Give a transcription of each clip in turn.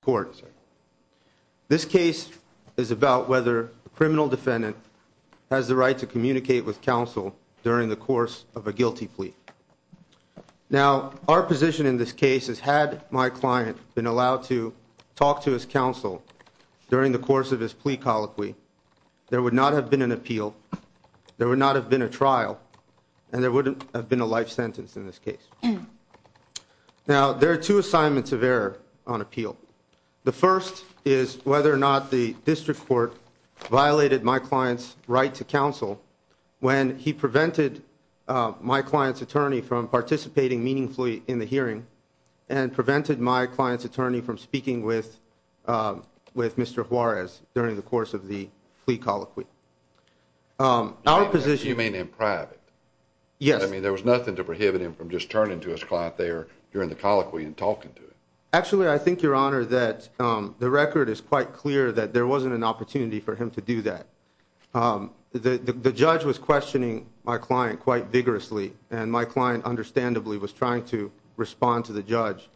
court. This case is about whether a criminal defendant has the right to communicate with counsel during the course of a guilty plea. Now our position in this case is had my client been allowed to talk to his counsel during the course of his plea colloquy, there would not have been an appeal, there would not have been a trial, and there wouldn't have been a life sentence in this case. Now there are two assignments of error on appeal. The first is whether or not the district court violated my client's right to counsel when he prevented my client's attorney from participating meaningfully in the hearing and prevented my client's attorney from speaking with with Mr. Juarez during the course of the plea colloquy. Our position... You mean in private? Yes. I mean there was nothing to prohibit him from just turning to his client there during the colloquy and talking to him? Actually, I think, your honor, that the record is quite clear that there wasn't an opportunity for him to do that. The judge was questioning my client quite vigorously and my client understandably was trying to respond to the judge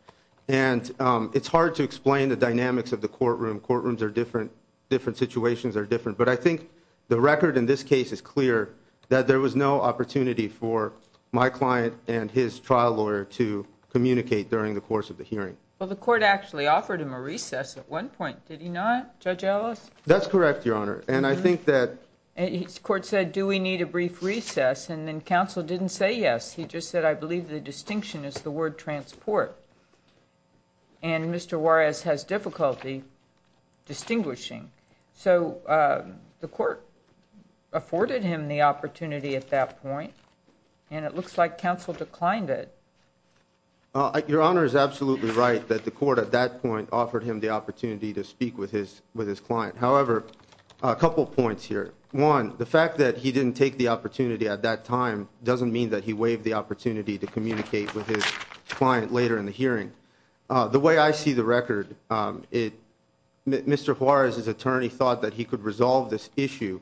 and it's hard to explain the dynamics of the courtroom. Courtrooms are different, different situations are different, but I think the record in this case is clear that there was no opportunity for my client and his trial lawyer to communicate during the course of the hearing. Well the court actually offered him a recess at one point, did he not, Judge Ellis? That's correct, your honor, and I think that... The court said do we need a brief recess and then counsel didn't say yes, he just said I believe the distinction is the word transport and Mr. Juarez has difficulty distinguishing. So the court afforded him the opportunity at that point and it looks like counsel declined it. Your honor is absolutely right that the court at that point offered him the opportunity to speak with his with his client. However, a couple points here. One, the fact that he didn't take the opportunity at that time doesn't mean that he waived the hearing. The way I see the record, Mr. Juarez's attorney thought that he could resolve this issue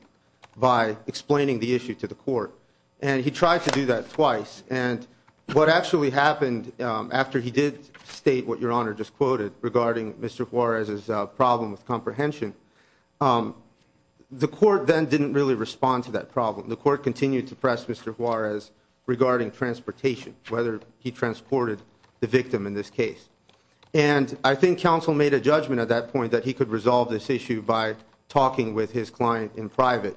by explaining the issue to the court and he tried to do that twice and what actually happened after he did state what your honor just quoted regarding Mr. Juarez's problem with comprehension, the court then didn't really respond to that problem. The court continued to press Mr. Juarez regarding transportation, whether he transported the victim in this case and I think counsel made a judgment at that point that he could resolve this issue by talking with his client in private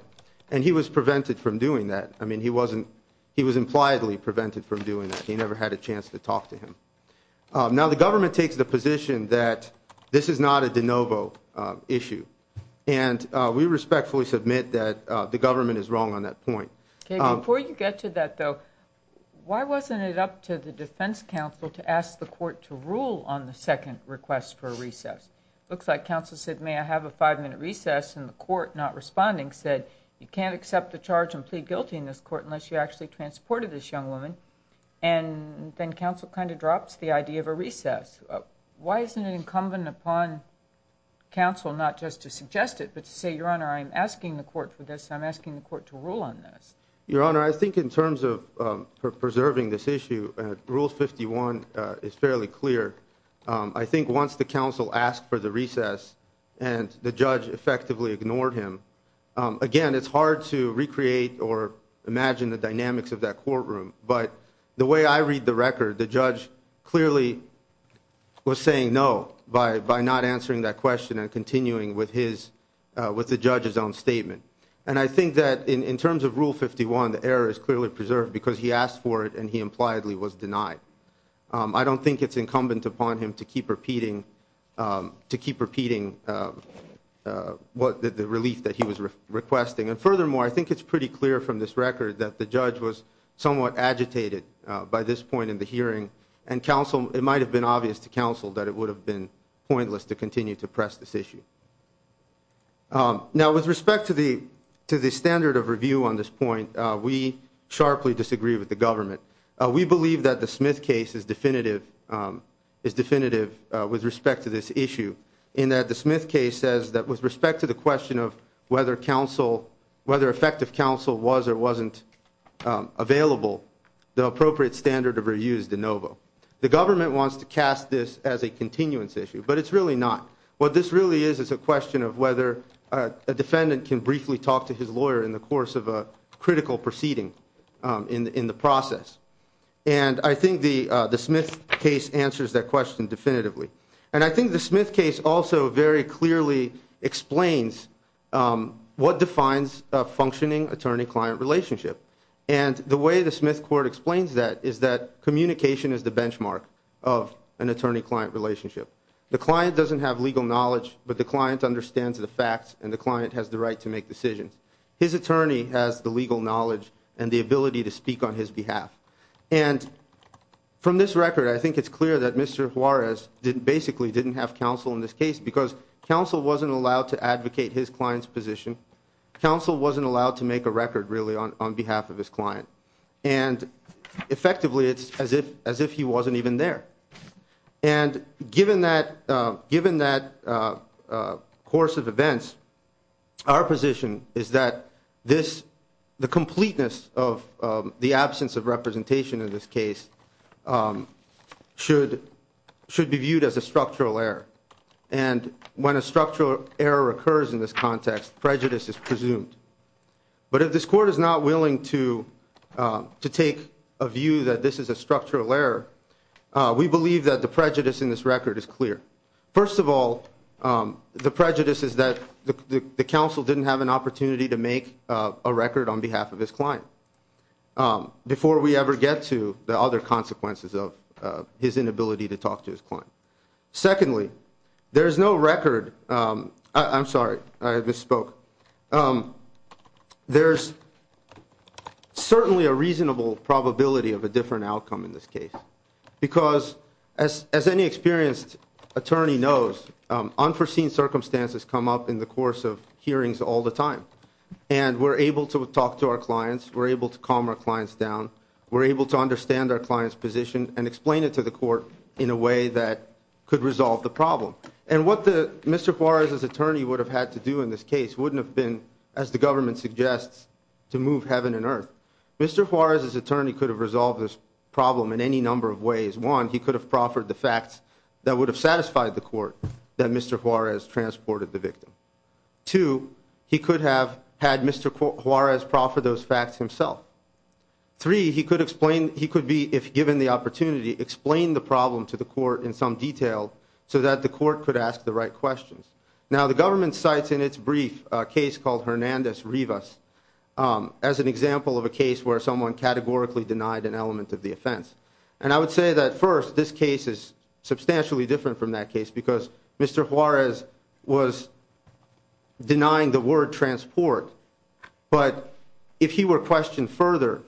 and he was prevented from doing that. I mean he wasn't, he was impliedly prevented from doing that. He never had a chance to talk to him. Now the government takes the position that this is not a de novo issue and we respectfully submit that the government is wrong on that point. Okay, before you get to that though, why wasn't it up to the defense counsel to ask the court to rule on the second request for a recess? Looks like counsel said may I have a five-minute recess and the court not responding said you can't accept the charge and plead guilty in this court unless you actually transported this young woman and then counsel kind of drops the idea of a recess. Why isn't it incumbent upon counsel not just to suggest it but to say your honor I'm asking the court for this, I'm asking the court to rule on this. Your honor, I think in terms of preserving this issue rules 51 is fairly clear. I think once the counsel asked for the recess and the judge effectively ignored him, again it's hard to recreate or imagine the dynamics of that courtroom but the way I read the record the judge clearly was saying no by by not answering that question and continuing with the judge's own statement and I think that in terms of rule 51 the error is clearly preserved because he asked for it and he impliedly was denied. I don't think it's incumbent upon him to keep repeating to keep repeating what the relief that he was requesting and furthermore I think it's pretty clear from this record that the judge was somewhat agitated by this point in the hearing and counsel it might have been obvious to counsel that it would have been pointless to continue to Now with respect to the to the standard of review on this point we sharply disagree with the government. We believe that the Smith case is definitive is definitive with respect to this issue in that the Smith case says that with respect to the question of whether counsel whether effective counsel was or wasn't available the appropriate standard of review is de novo. The government wants to cast this as a continuance issue but it's really not. What this really is is a question of whether a defendant can briefly talk to his lawyer in the course of a critical proceeding in the process and I think the the Smith case answers that question definitively and I think the Smith case also very clearly explains what defines a functioning attorney-client relationship and the way the Smith court explains that is that communication is the benchmark of an attorney-client relationship. The client doesn't have legal knowledge but the client understands the facts and the client has the right to make decisions. His attorney has the legal knowledge and the ability to speak on his behalf and from this record I think it's clear that Mr. Juarez didn't basically didn't have counsel in this case because counsel wasn't allowed to advocate his client's position. Counsel wasn't allowed to make a record really on behalf of his client and effectively it's as if as if he wasn't even there and given that given that course of events our position is that this the completeness of the absence of representation in this case should should be viewed as a structural error and when a structural error occurs in this context prejudice is presumed but if this court is not willing to to take a view that this is a structural error we believe that the prejudice in this record is clear. First of all the prejudice is that the counsel didn't have an opportunity to make a record on behalf of his client before we ever get to the other consequences of his inability to talk to his client. Secondly there is no record I'm sorry I There's certainly a reasonable probability of a different outcome in this case because as as any experienced attorney knows unforeseen circumstances come up in the course of hearings all the time and we're able to talk to our clients we're able to calm our clients down we're able to understand our clients position and explain it to the court in a way that could resolve the problem and what the Mr. Juarez's attorney would have had to do in this case wouldn't have been as the government suggests to move heaven and earth. Mr. Juarez's attorney could have resolved this problem in any number of ways. One he could have proffered the facts that would have satisfied the court that Mr. Juarez transported the victim. Two he could have had Mr. Juarez proffer those facts himself. Three he could explain he could be if given the opportunity explain the problem to the court in some detail so that the court could ask the right questions. Now the government cites in its brief case called Hernandez Rivas as an example of a case where someone categorically denied an element of the offense and I would say that first this case is substantially different from that case because Mr. Juarez was denying the word transport but if he were questioned further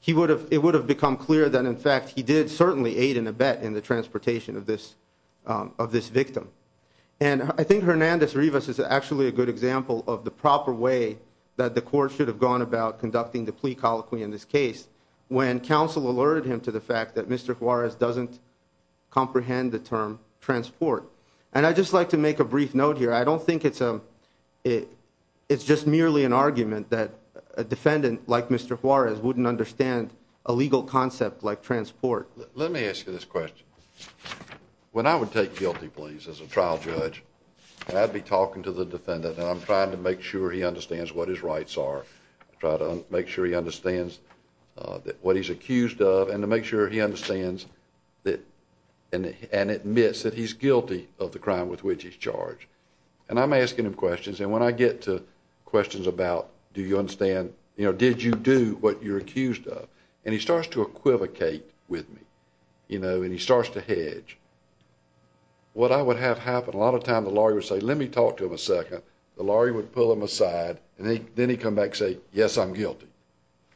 he would have it would have become clear that in fact he did certainly aid in a bet in the transportation of this victim and I think Hernandez Rivas is actually a good example of the proper way that the court should have gone about conducting the plea colloquy in this case when counsel alerted him to the fact that Mr. Juarez doesn't comprehend the term transport and I just like to make a brief note here I don't think it's a it it's just merely an argument that a defendant like Mr. Juarez wouldn't understand a legal concept like transport let me ask you this question when I would take guilty pleas as a trial judge I'd be talking to the defendant and I'm trying to make sure he understands what his rights are try to make sure he understands that what he's accused of and to make sure he understands that and and admits that he's guilty of the crime with which he's charged and I'm asking him questions and when I get to questions about do you understand you know did you do what you're accused of and he starts to equivocate with me you know and he starts to hedge what I would have happened a lot of time the lawyer would say let me talk to him a second the lawyer would pull him aside and then he come back say yes I'm guilty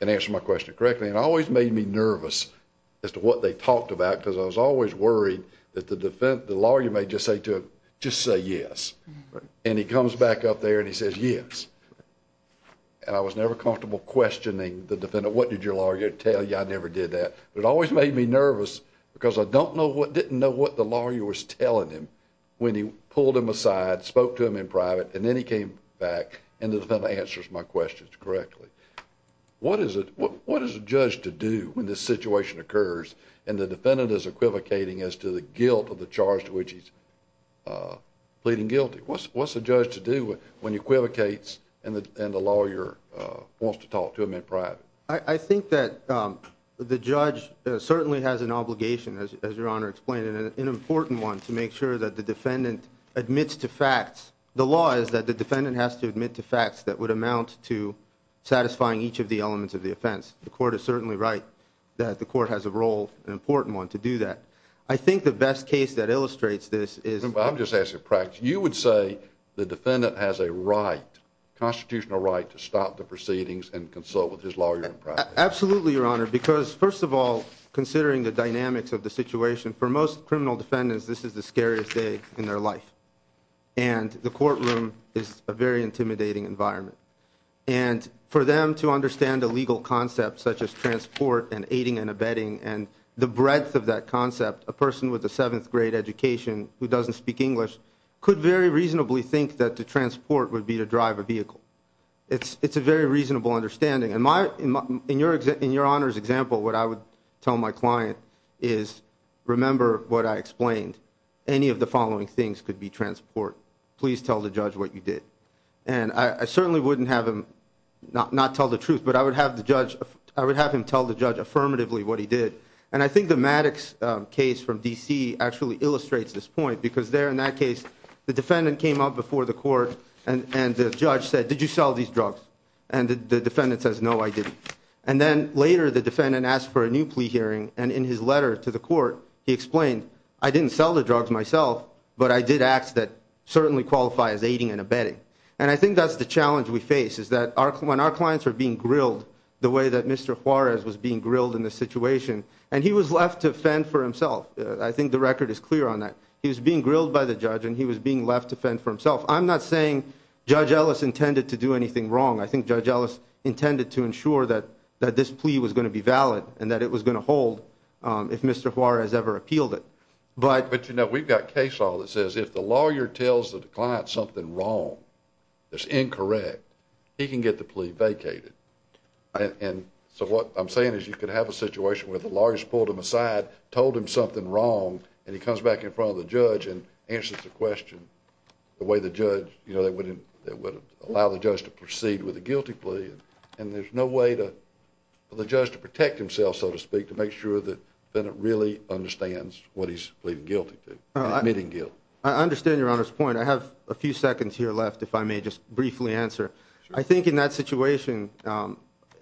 and answer my question correctly and always made me nervous as to what they talked about because I was always worried that the defense the lawyer may just say to just say yes and he comes back up there and he says yes and I was never comfortable questioning the defendant what did your lawyer tell you I never did that but it always made me nervous because I don't know what didn't know what the lawyer was telling him when he pulled him aside spoke to him in private and then he came back and the defendant answers my questions correctly what is it what is the judge to do when this situation occurs and the defendant is equivocating as to the guilt of the charge to which he's pleading guilty what's what's the judge to do when equivocates and the lawyer wants to talk to him in private I think that the judge certainly has an obligation as your honor explained in an important one to make sure that the defendant admits to facts the law is that the defendant has to admit to facts that would amount to satisfying each of the elements of the offense the court is certainly right that the court has a role an important one to do that I think the best case that illustrates this is I'm just asking practice you would say the defendant has a right constitutional right to stop the proceedings and consult with his lawyer absolutely your honor because first of all considering the dynamics of the situation for most criminal defendants this is the scariest day in their life and the courtroom is a very intimidating environment and for them to understand a legal concept such as transport and aiding and abetting and the breadth of that concept a person with a could very reasonably think that to transport would be to drive a vehicle it's it's a very reasonable understanding and my in your exit in your honors example what I would tell my client is remember what I explained any of the following things could be transport please tell the judge what you did and I certainly wouldn't have him not tell the truth but I would have the judge I would have him tell the judge affirmatively what he did and I think the Maddox case from DC actually illustrates this point because they're in that case the defendant came up before the court and and the judge said did you sell these drugs and the defendant says no I didn't and then later the defendant asked for a new plea hearing and in his letter to the court he explained I didn't sell the drugs myself but I did acts that certainly qualify as aiding and abetting and I think that's the challenge we face is that our when our clients are being grilled the way that mr. Juarez was clear on that he was being grilled by the judge and he was being left to fend for himself I'm not saying judge Ellis intended to do anything wrong I think judge Ellis intended to ensure that that this plea was going to be valid and that it was going to hold if mr. Juarez ever appealed it but but you know we've got case all that says if the lawyer tells the client something wrong that's incorrect he can get the plea vacated and so what I'm saying is you could have a situation where the back in front of the judge and answers the question the way the judge you know that wouldn't that would allow the judge to proceed with a guilty plea and there's no way to the judge to protect himself so to speak to make sure that then it really understands what he's pleading guilty to admitting guilt I understand your honor's point I have a few seconds here left if I may just briefly answer I think in that situation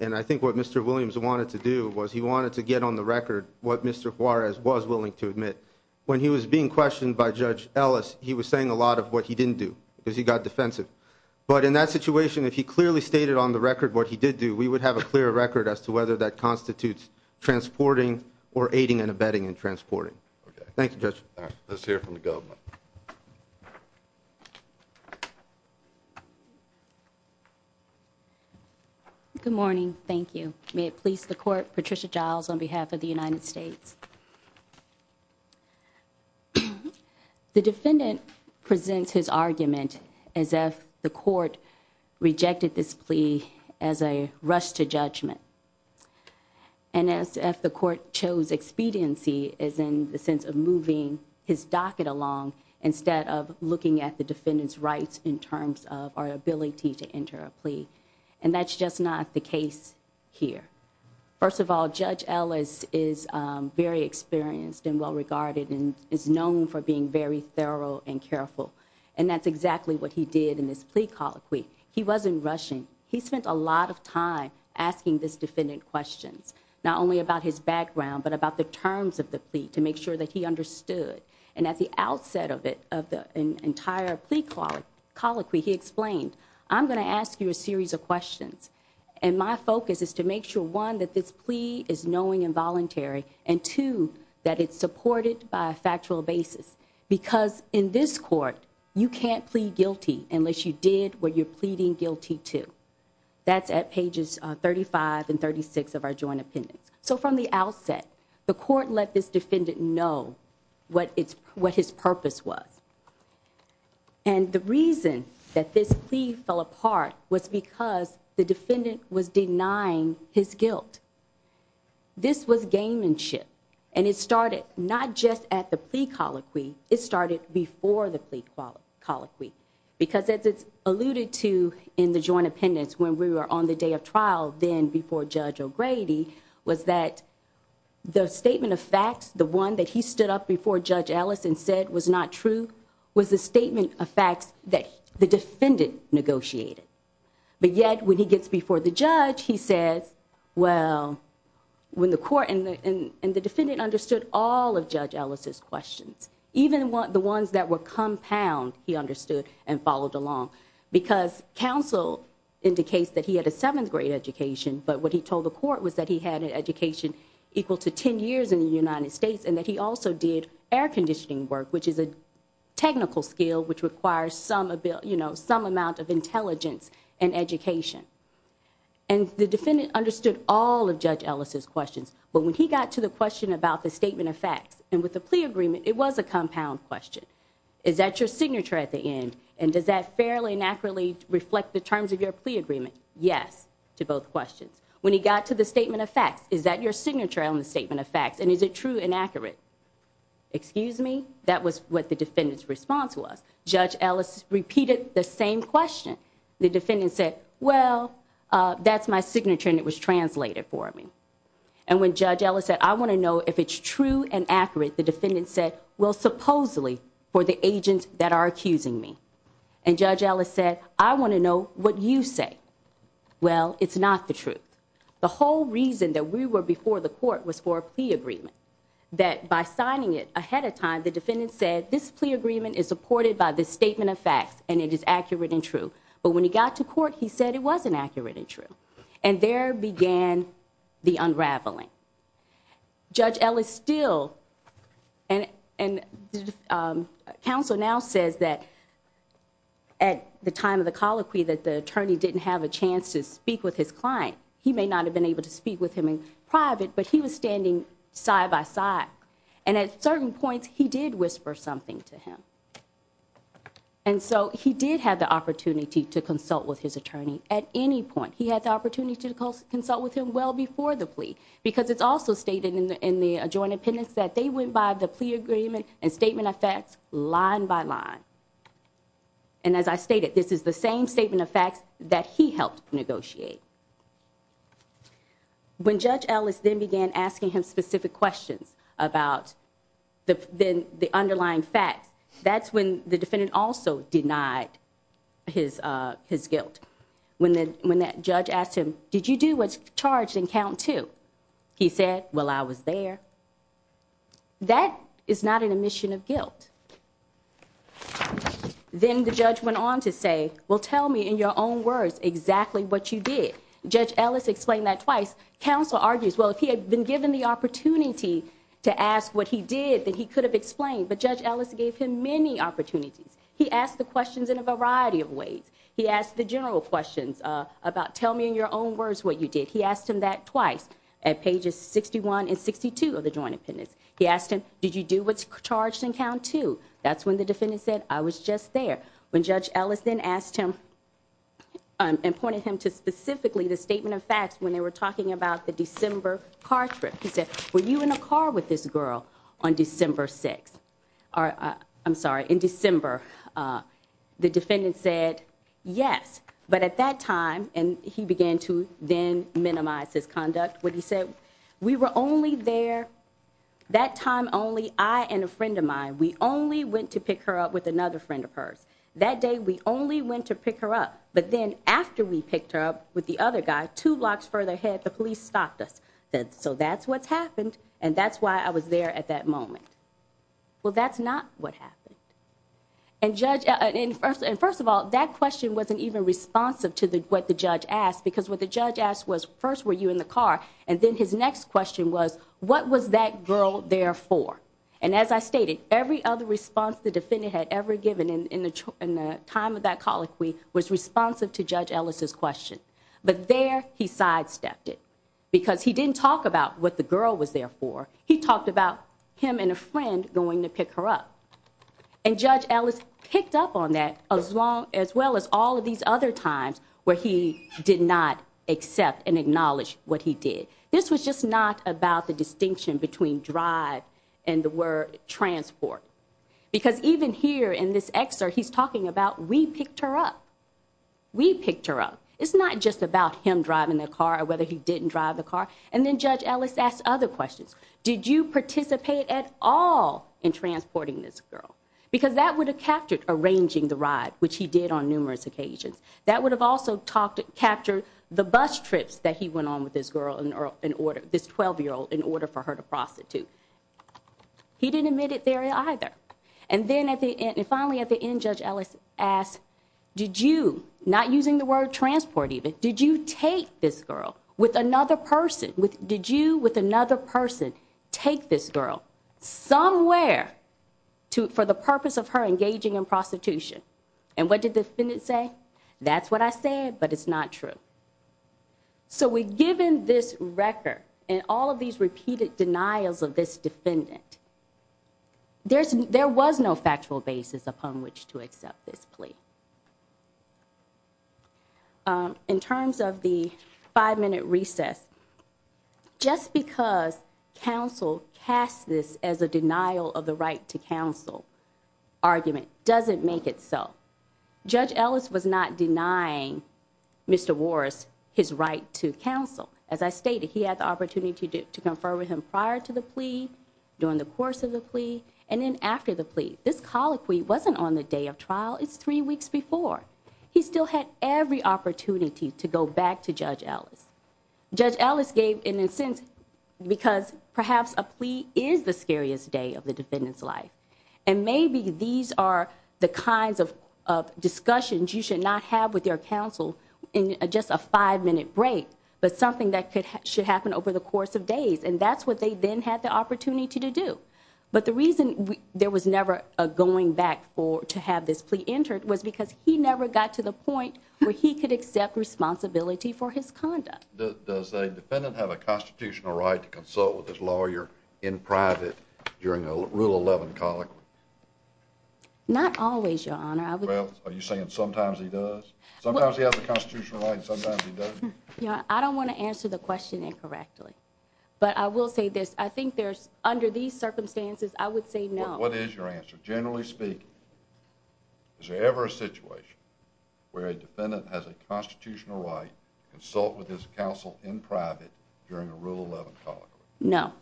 and I think what mr. Williams wanted to do was he wanted to get on the record what mr. Juarez was willing to admit when he was being questioned by judge Ellis he was saying a lot of what he didn't do because he got defensive but in that situation if he clearly stated on the record what he did do we would have a clear record as to whether that constitutes transporting or aiding and abetting and transporting thank you judge let's hear from the government good morning thank you may it please the court Patricia Giles on behalf of the United States the defendant presents his argument as if the court rejected this plea as a rush to judgment and as if the court chose expediency is in the sense of moving his docket along instead of looking at the defendants rights in terms of our ability to enter a plea and that's just not the case here first of all judge Ellis is very experienced and well regarded and is known for being very thorough and careful and that's exactly what he did in this plea colloquy he wasn't rushing he spent a lot of time asking this defendant questions not only about his background but about the terms of the plea to make sure that he understood and at the outset of it of the entire plea colloquy he explained I'm gonna ask you a series of questions and my focus is to make sure one that this plea is knowing involuntary and two that it's supported by a factual basis because in this court you can't plead guilty unless you did what you're pleading guilty to that's at pages 35 and 36 of our joint appendix so from the outset the court let this defendant know what it's what his purpose was and the reason that this plea fell apart was because the defendant was denying his guilt this was game and shit and it started not just at the plea colloquy it started before the plea colloquy because as it's alluded to in the joint appendix when we were on the day of trial then before Judge O'Grady was that the statement of facts the one that he stood up before Judge Ellis and said was not true was the statement of facts that the defendant negotiated but yet when he gets before the judge he says well when the court and the defendant understood all of Judge Ellis's questions even what the ones that were compound he understood and followed along because counsel indicates that he had a seventh grade education but what he told the court was that he had an education equal to ten years in the United States and that he also did air conditioning work which is a technical skill which requires some ability you know some amount of intelligence and education and the defendant understood all of Judge Ellis's questions but when he got to the question about the statement of facts and with the plea agreement it was a reflect the terms of your plea agreement yes to both questions when he got to the statement of facts is that your signature on the statement of facts and is it true inaccurate excuse me that was what the defendants response was Judge Ellis repeated the same question the defendant said well that's my signature and it was translated for me and when Judge Ellis said I want to know if it's true and accurate the defendant said well supposedly for the agents that are accusing me and Judge Ellis said I want to know what you say well it's not the truth the whole reason that we were before the court was for a plea agreement that by signing it ahead of time the defendant said this plea agreement is supported by this statement of facts and it is accurate and true but when he got to court he said it wasn't accurate and true and there began the unraveling Judge Ellis still and and counsel now says that at the time of the colloquy that the attorney didn't have a chance to speak with his client he may not have been able to speak with him in private but he was standing side-by-side and at certain points he did whisper something to him and so he did have the opportunity to consult with his attorney at any point he had the opportunity to consult with him well before the plea because it's also stated in the in the adjoining penance that they went by the plea agreement and statement of facts line by line and as I stated this is the same statement of facts that he helped negotiate when Judge Ellis then began asking him specific questions about the then the underlying facts that's when the defendant also denied his guilt when the when that judge asked him did you do what's charged in count two he said well I was there that is not an omission of guilt then the judge went on to say well tell me in your own words exactly what you did Judge Ellis explained that twice counsel argues well if he had been given the opportunity to ask what he did that he could have explained but Judge Ellis gave him many opportunities he asked the questions in a variety of ways he asked the general questions about tell me in your own words what you did he asked him that twice at pages 61 and 62 of the joint appendix he asked him did you do what's charged in count two that's when the defendant said I was just there when Judge Ellis then asked him and pointed him to specifically the statement of facts when they were talking about the December car trip he said were you in a car with this girl on December 6th or I'm sorry in December the defendant said yes but at that time and he began to then minimize his conduct what he said we were only there that time only I and a friend of mine we only went to pick her up with another friend of hers that day we only went to pick her up but then after we picked her up with the other guy two blocks further ahead the police stopped us so that's what's happened and that's why I was there at that moment well that's not what happened and judge and first and first of all that question wasn't even responsive to the what the judge asked because what the judge asked was first were you in the car and then his next question was what was that girl there for and as I stated every other response the defendant had ever given in the time of that colloquy was responsive to Judge Ellis's question but there he sidestepped it because he didn't talk about what the girl was there for he talked about him and a friend going to pick her up and Judge Ellis picked up on that as long as well as all of these other times where he did not accept and acknowledge what he did this was just not about the distinction between drive and the word transport because even here in this excerpt he's talking about we picked her up we picked her up it's not just about him driving the car or whether he didn't drive the car and then judge Ellis asked other questions did you participate at all in transporting this girl because that would have captured arranging the ride which he did on numerous occasions that would have also talked to capture the bus trips that he went on with this girl in order this 12 year old in order for her to prostitute he didn't admit it there either and then at the end and finally at the end judge Ellis asked did you not using the word transport even did you take this girl with another person with did you with another person take this girl somewhere to for the purpose of her engaging in prostitution and what did the defendant say that's what I said but it's not true so we've given this record and all of these repeated denials of this defendant there's there was no factual basis upon which to accept this plea in terms of the five-minute recess just because counsel cast this as a denial of the right to counsel argument doesn't make itself judge Ellis was not denying mr. Warris his right to counsel as I stated he had the opportunity to confer with him prior to the plea during the course of the plea and then after the plea this colloquy wasn't on the day of trial it's three weeks before he still had every opportunity to go back to judge Ellis judge Ellis gave in a sense because perhaps a plea is the scariest day of the defendant's life and maybe these are the kinds of discussions you should not have with your counsel in just a five-minute break but something that could happen over the course of days and that's what they then had the opportunity to do but the reason there was never a going back for to have this plea entered was because he never got to the point where he could accept responsibility for his conduct does a defendant have a constitutional right to consult with his lawyer in private during a rule 11 colloquy not always your honor are you saying sometimes he does sometimes he has a constitutional right sometimes you know I don't want to answer the question incorrectly but I will say this I think there's under these circumstances I would say no what is your answer generally speaking is there ever a situation where a defendant has a constitutional right consult with his counsel in private during a rule of no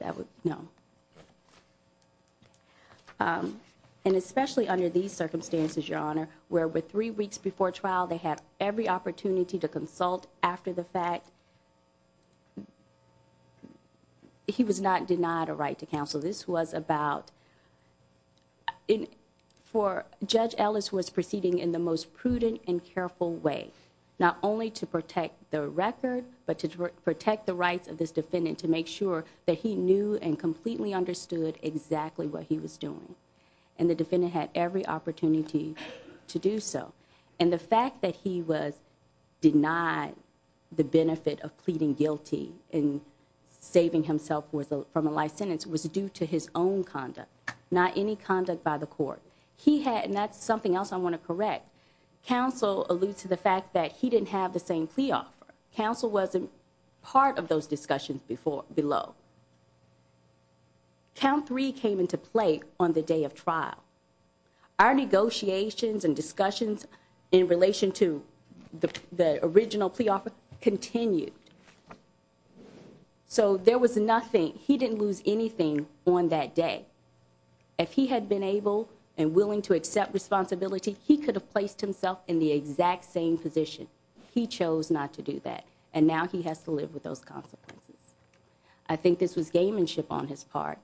that would no and especially under these circumstances your honor where with three weeks before trial they had every opportunity to consult after the fact he was not denied a right to counsel this was about in for judge Ellis was proceeding in the most prudent and careful way not only to protect the record but to protect the rights of this defendant to make sure that he knew and completely understood exactly what he was doing and the defendant had every opportunity to do so and the fact that he was denied the benefit of pleading guilty in saving himself worth from a life sentence was due to his own conduct not any else I want to correct counsel alludes to the fact that he didn't have the same plea offer counsel wasn't part of those discussions before below count three came into play on the day of trial our negotiations and discussions in relation to the original plea offer continued so there was he could have placed himself in the exact same position he chose not to do that and now he has to live with those consequences I think this was game and ship on his part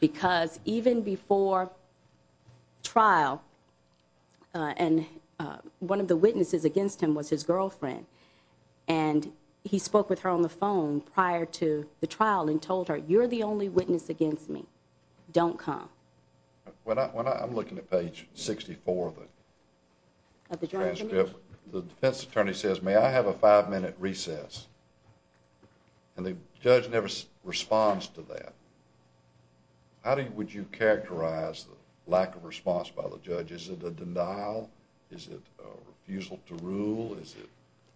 because even before trial and one of the witnesses against him was his girlfriend and he spoke with her on the phone prior to the trial and told her you're the only witness against me don't come when I'm looking at page 64 of the transcript the defense attorney says may I have a five-minute recess and the judge never responds to that how do you would you characterize the lack of response by the judge is it a denial is it refusal to rule is it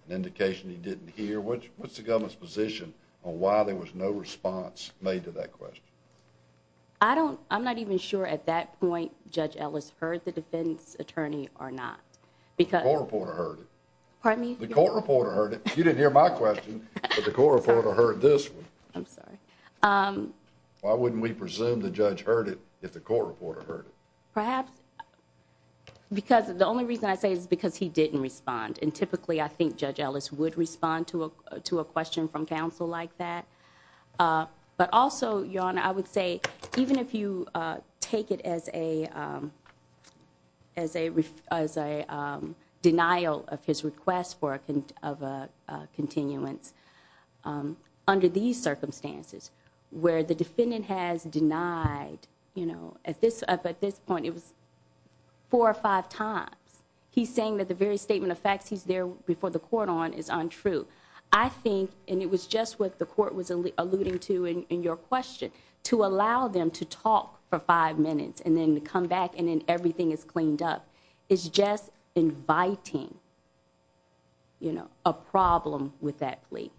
an indication he didn't hear which what's the government's position on why there was no response made to that question I don't I'm not even sure at that point judge Ellis heard the defense attorney or not because the court reporter heard it you didn't hear my question the court reporter heard this I'm sorry why wouldn't we presume the judge heard it if the court reporter perhaps because the only reason I say is because he didn't respond and typically I think judge Ellis would respond to a to a question from counsel like that but also your honor I would say even if you take it as a as a as a denial of his request for a of a continuance under these circumstances where the defendant has denied you know at this up at this point it was four or five times he's saying that the very statement of facts he's there before the court on is untrue I think and it was just what the court was alluding to in your question to allow them to talk for five minutes and then come back and then everything is cleaned up it's just inviting you know a problem with that plea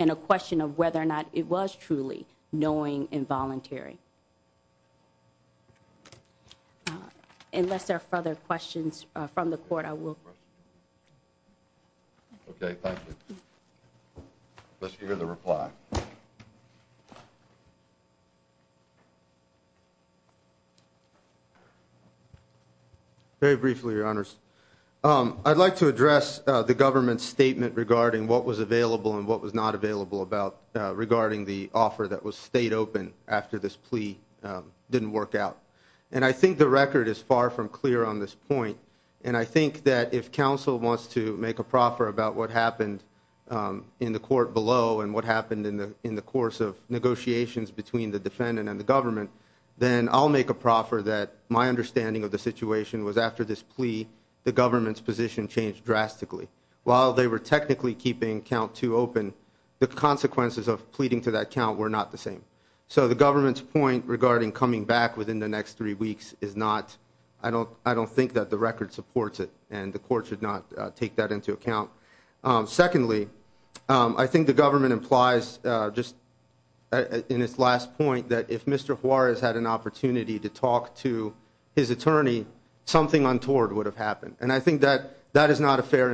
and a question of whether or not it was truly knowing involuntary unless there are further questions from the court I will very briefly your honors I'd like to address the government statement regarding what was the offer that was stayed open after this plea didn't work out and I think the record is far from clear on this point and I think that if counsel wants to make a proffer about what happened in the court below and what happened in the in the course of negotiations between the defendant and the government then I'll make a proffer that my understanding of the situation was after this plea the government's position changed drastically while they were technically keeping count to open the consequences of pleading to that count were not the same so the government's point regarding coming back within the next three weeks is not I don't I don't think that the record supports it and the court should not take that into account secondly I think the government implies just in its last point that if mr. Juarez had an opportunity to talk to his attorney something untoward would have happened and I think that that is not a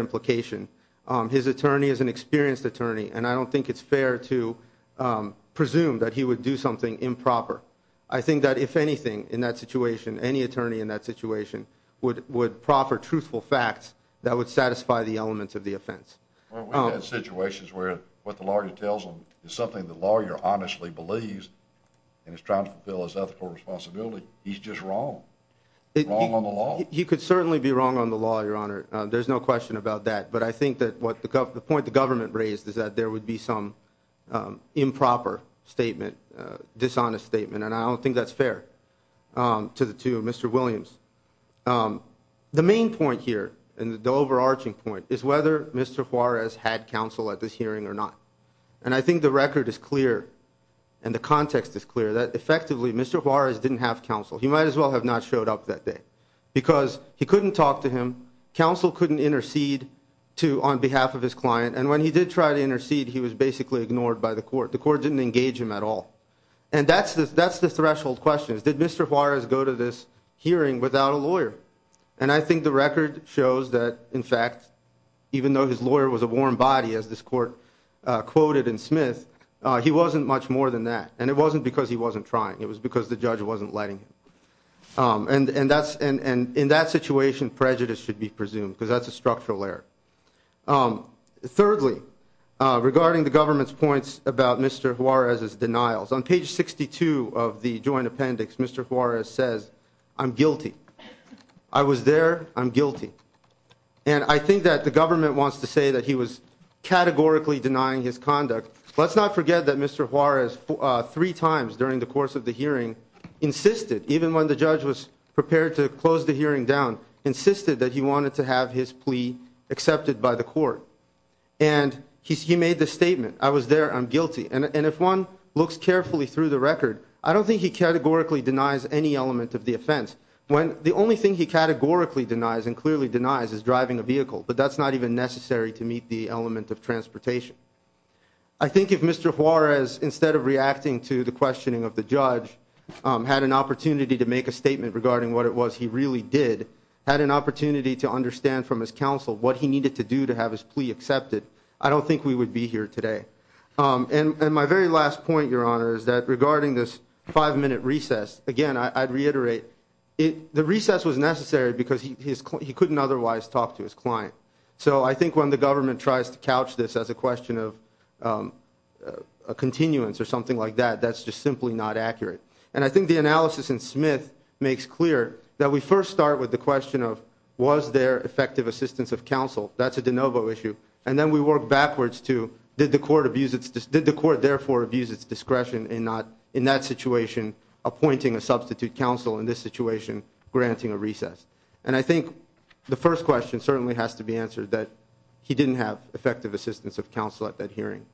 and I don't think it's fair to presume that he would do something improper I think that if anything in that situation any attorney in that situation would would proffer truthful facts that would satisfy the elements of the offense situations where what the lawyer tells them is something the lawyer honestly believes and it's trying to fill his ethical responsibility he's just wrong it wrong on the law you could certainly be wrong on the law your honor there's no question about that but I think that what the point the government raised is that there would be some improper statement dishonest statement and I don't think that's fair to the two mr. Williams the main point here and the overarching point is whether mr. Juarez had counsel at this hearing or not and I think the record is clear and the context is clear that effectively mr. Juarez didn't have counsel he might as well have not showed up that day because he couldn't talk to him counsel couldn't intercede to on behalf of his client and when he did try to intercede he was basically ignored by the court the court didn't engage him at all and that's this that's the threshold questions did mr. Juarez go to this hearing without a lawyer and I think the record shows that in fact even though his lawyer was a warm body as this court quoted in Smith he wasn't much more than that and it wasn't because he wasn't trying it was because the judge wasn't letting and and that's and and in that situation prejudice should be presumed because that's a structural error thirdly regarding the government's points about mr. Juarez's denials on page 62 of the joint appendix mr. Juarez says I'm guilty I was there I'm guilty and I think that the government wants to say that he was categorically denying his conduct let's not forget that mr. Juarez three times during the course of the hearing insisted even when the judge was prepared to close the hearing down insisted that he wanted to have his plea accepted by the court and he made the statement I was there I'm guilty and if one looks carefully through the record I don't think he categorically denies any element of the offense when the only thing he categorically denies and clearly denies is driving a vehicle but that's not even necessary to meet the element of to the questioning of the judge had an opportunity to make a statement regarding what it was he really did had an opportunity to understand from his counsel what he needed to do to have his plea accepted I don't think we would be here today and my very last point your honor is that regarding this five-minute recess again I'd reiterate it the recess was necessary because he couldn't otherwise talk to his client so I think when the government tries to couch this as a question of a continuance or something like that that's just simply not accurate and I think the analysis in Smith makes clear that we first start with the question of was there effective assistance of counsel that's a de novo issue and then we work backwards to did the court abuse it's just did the court therefore abuse its discretion and not in that situation appointing a substitute counsel in this situation granting a recess and I think the first question certainly has to be answered that he didn't have effective assistance of counsel at that hearing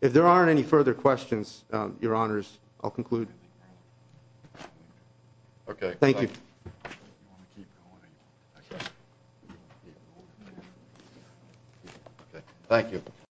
if there aren't any further questions your honors I'll conclude okay thank you thank you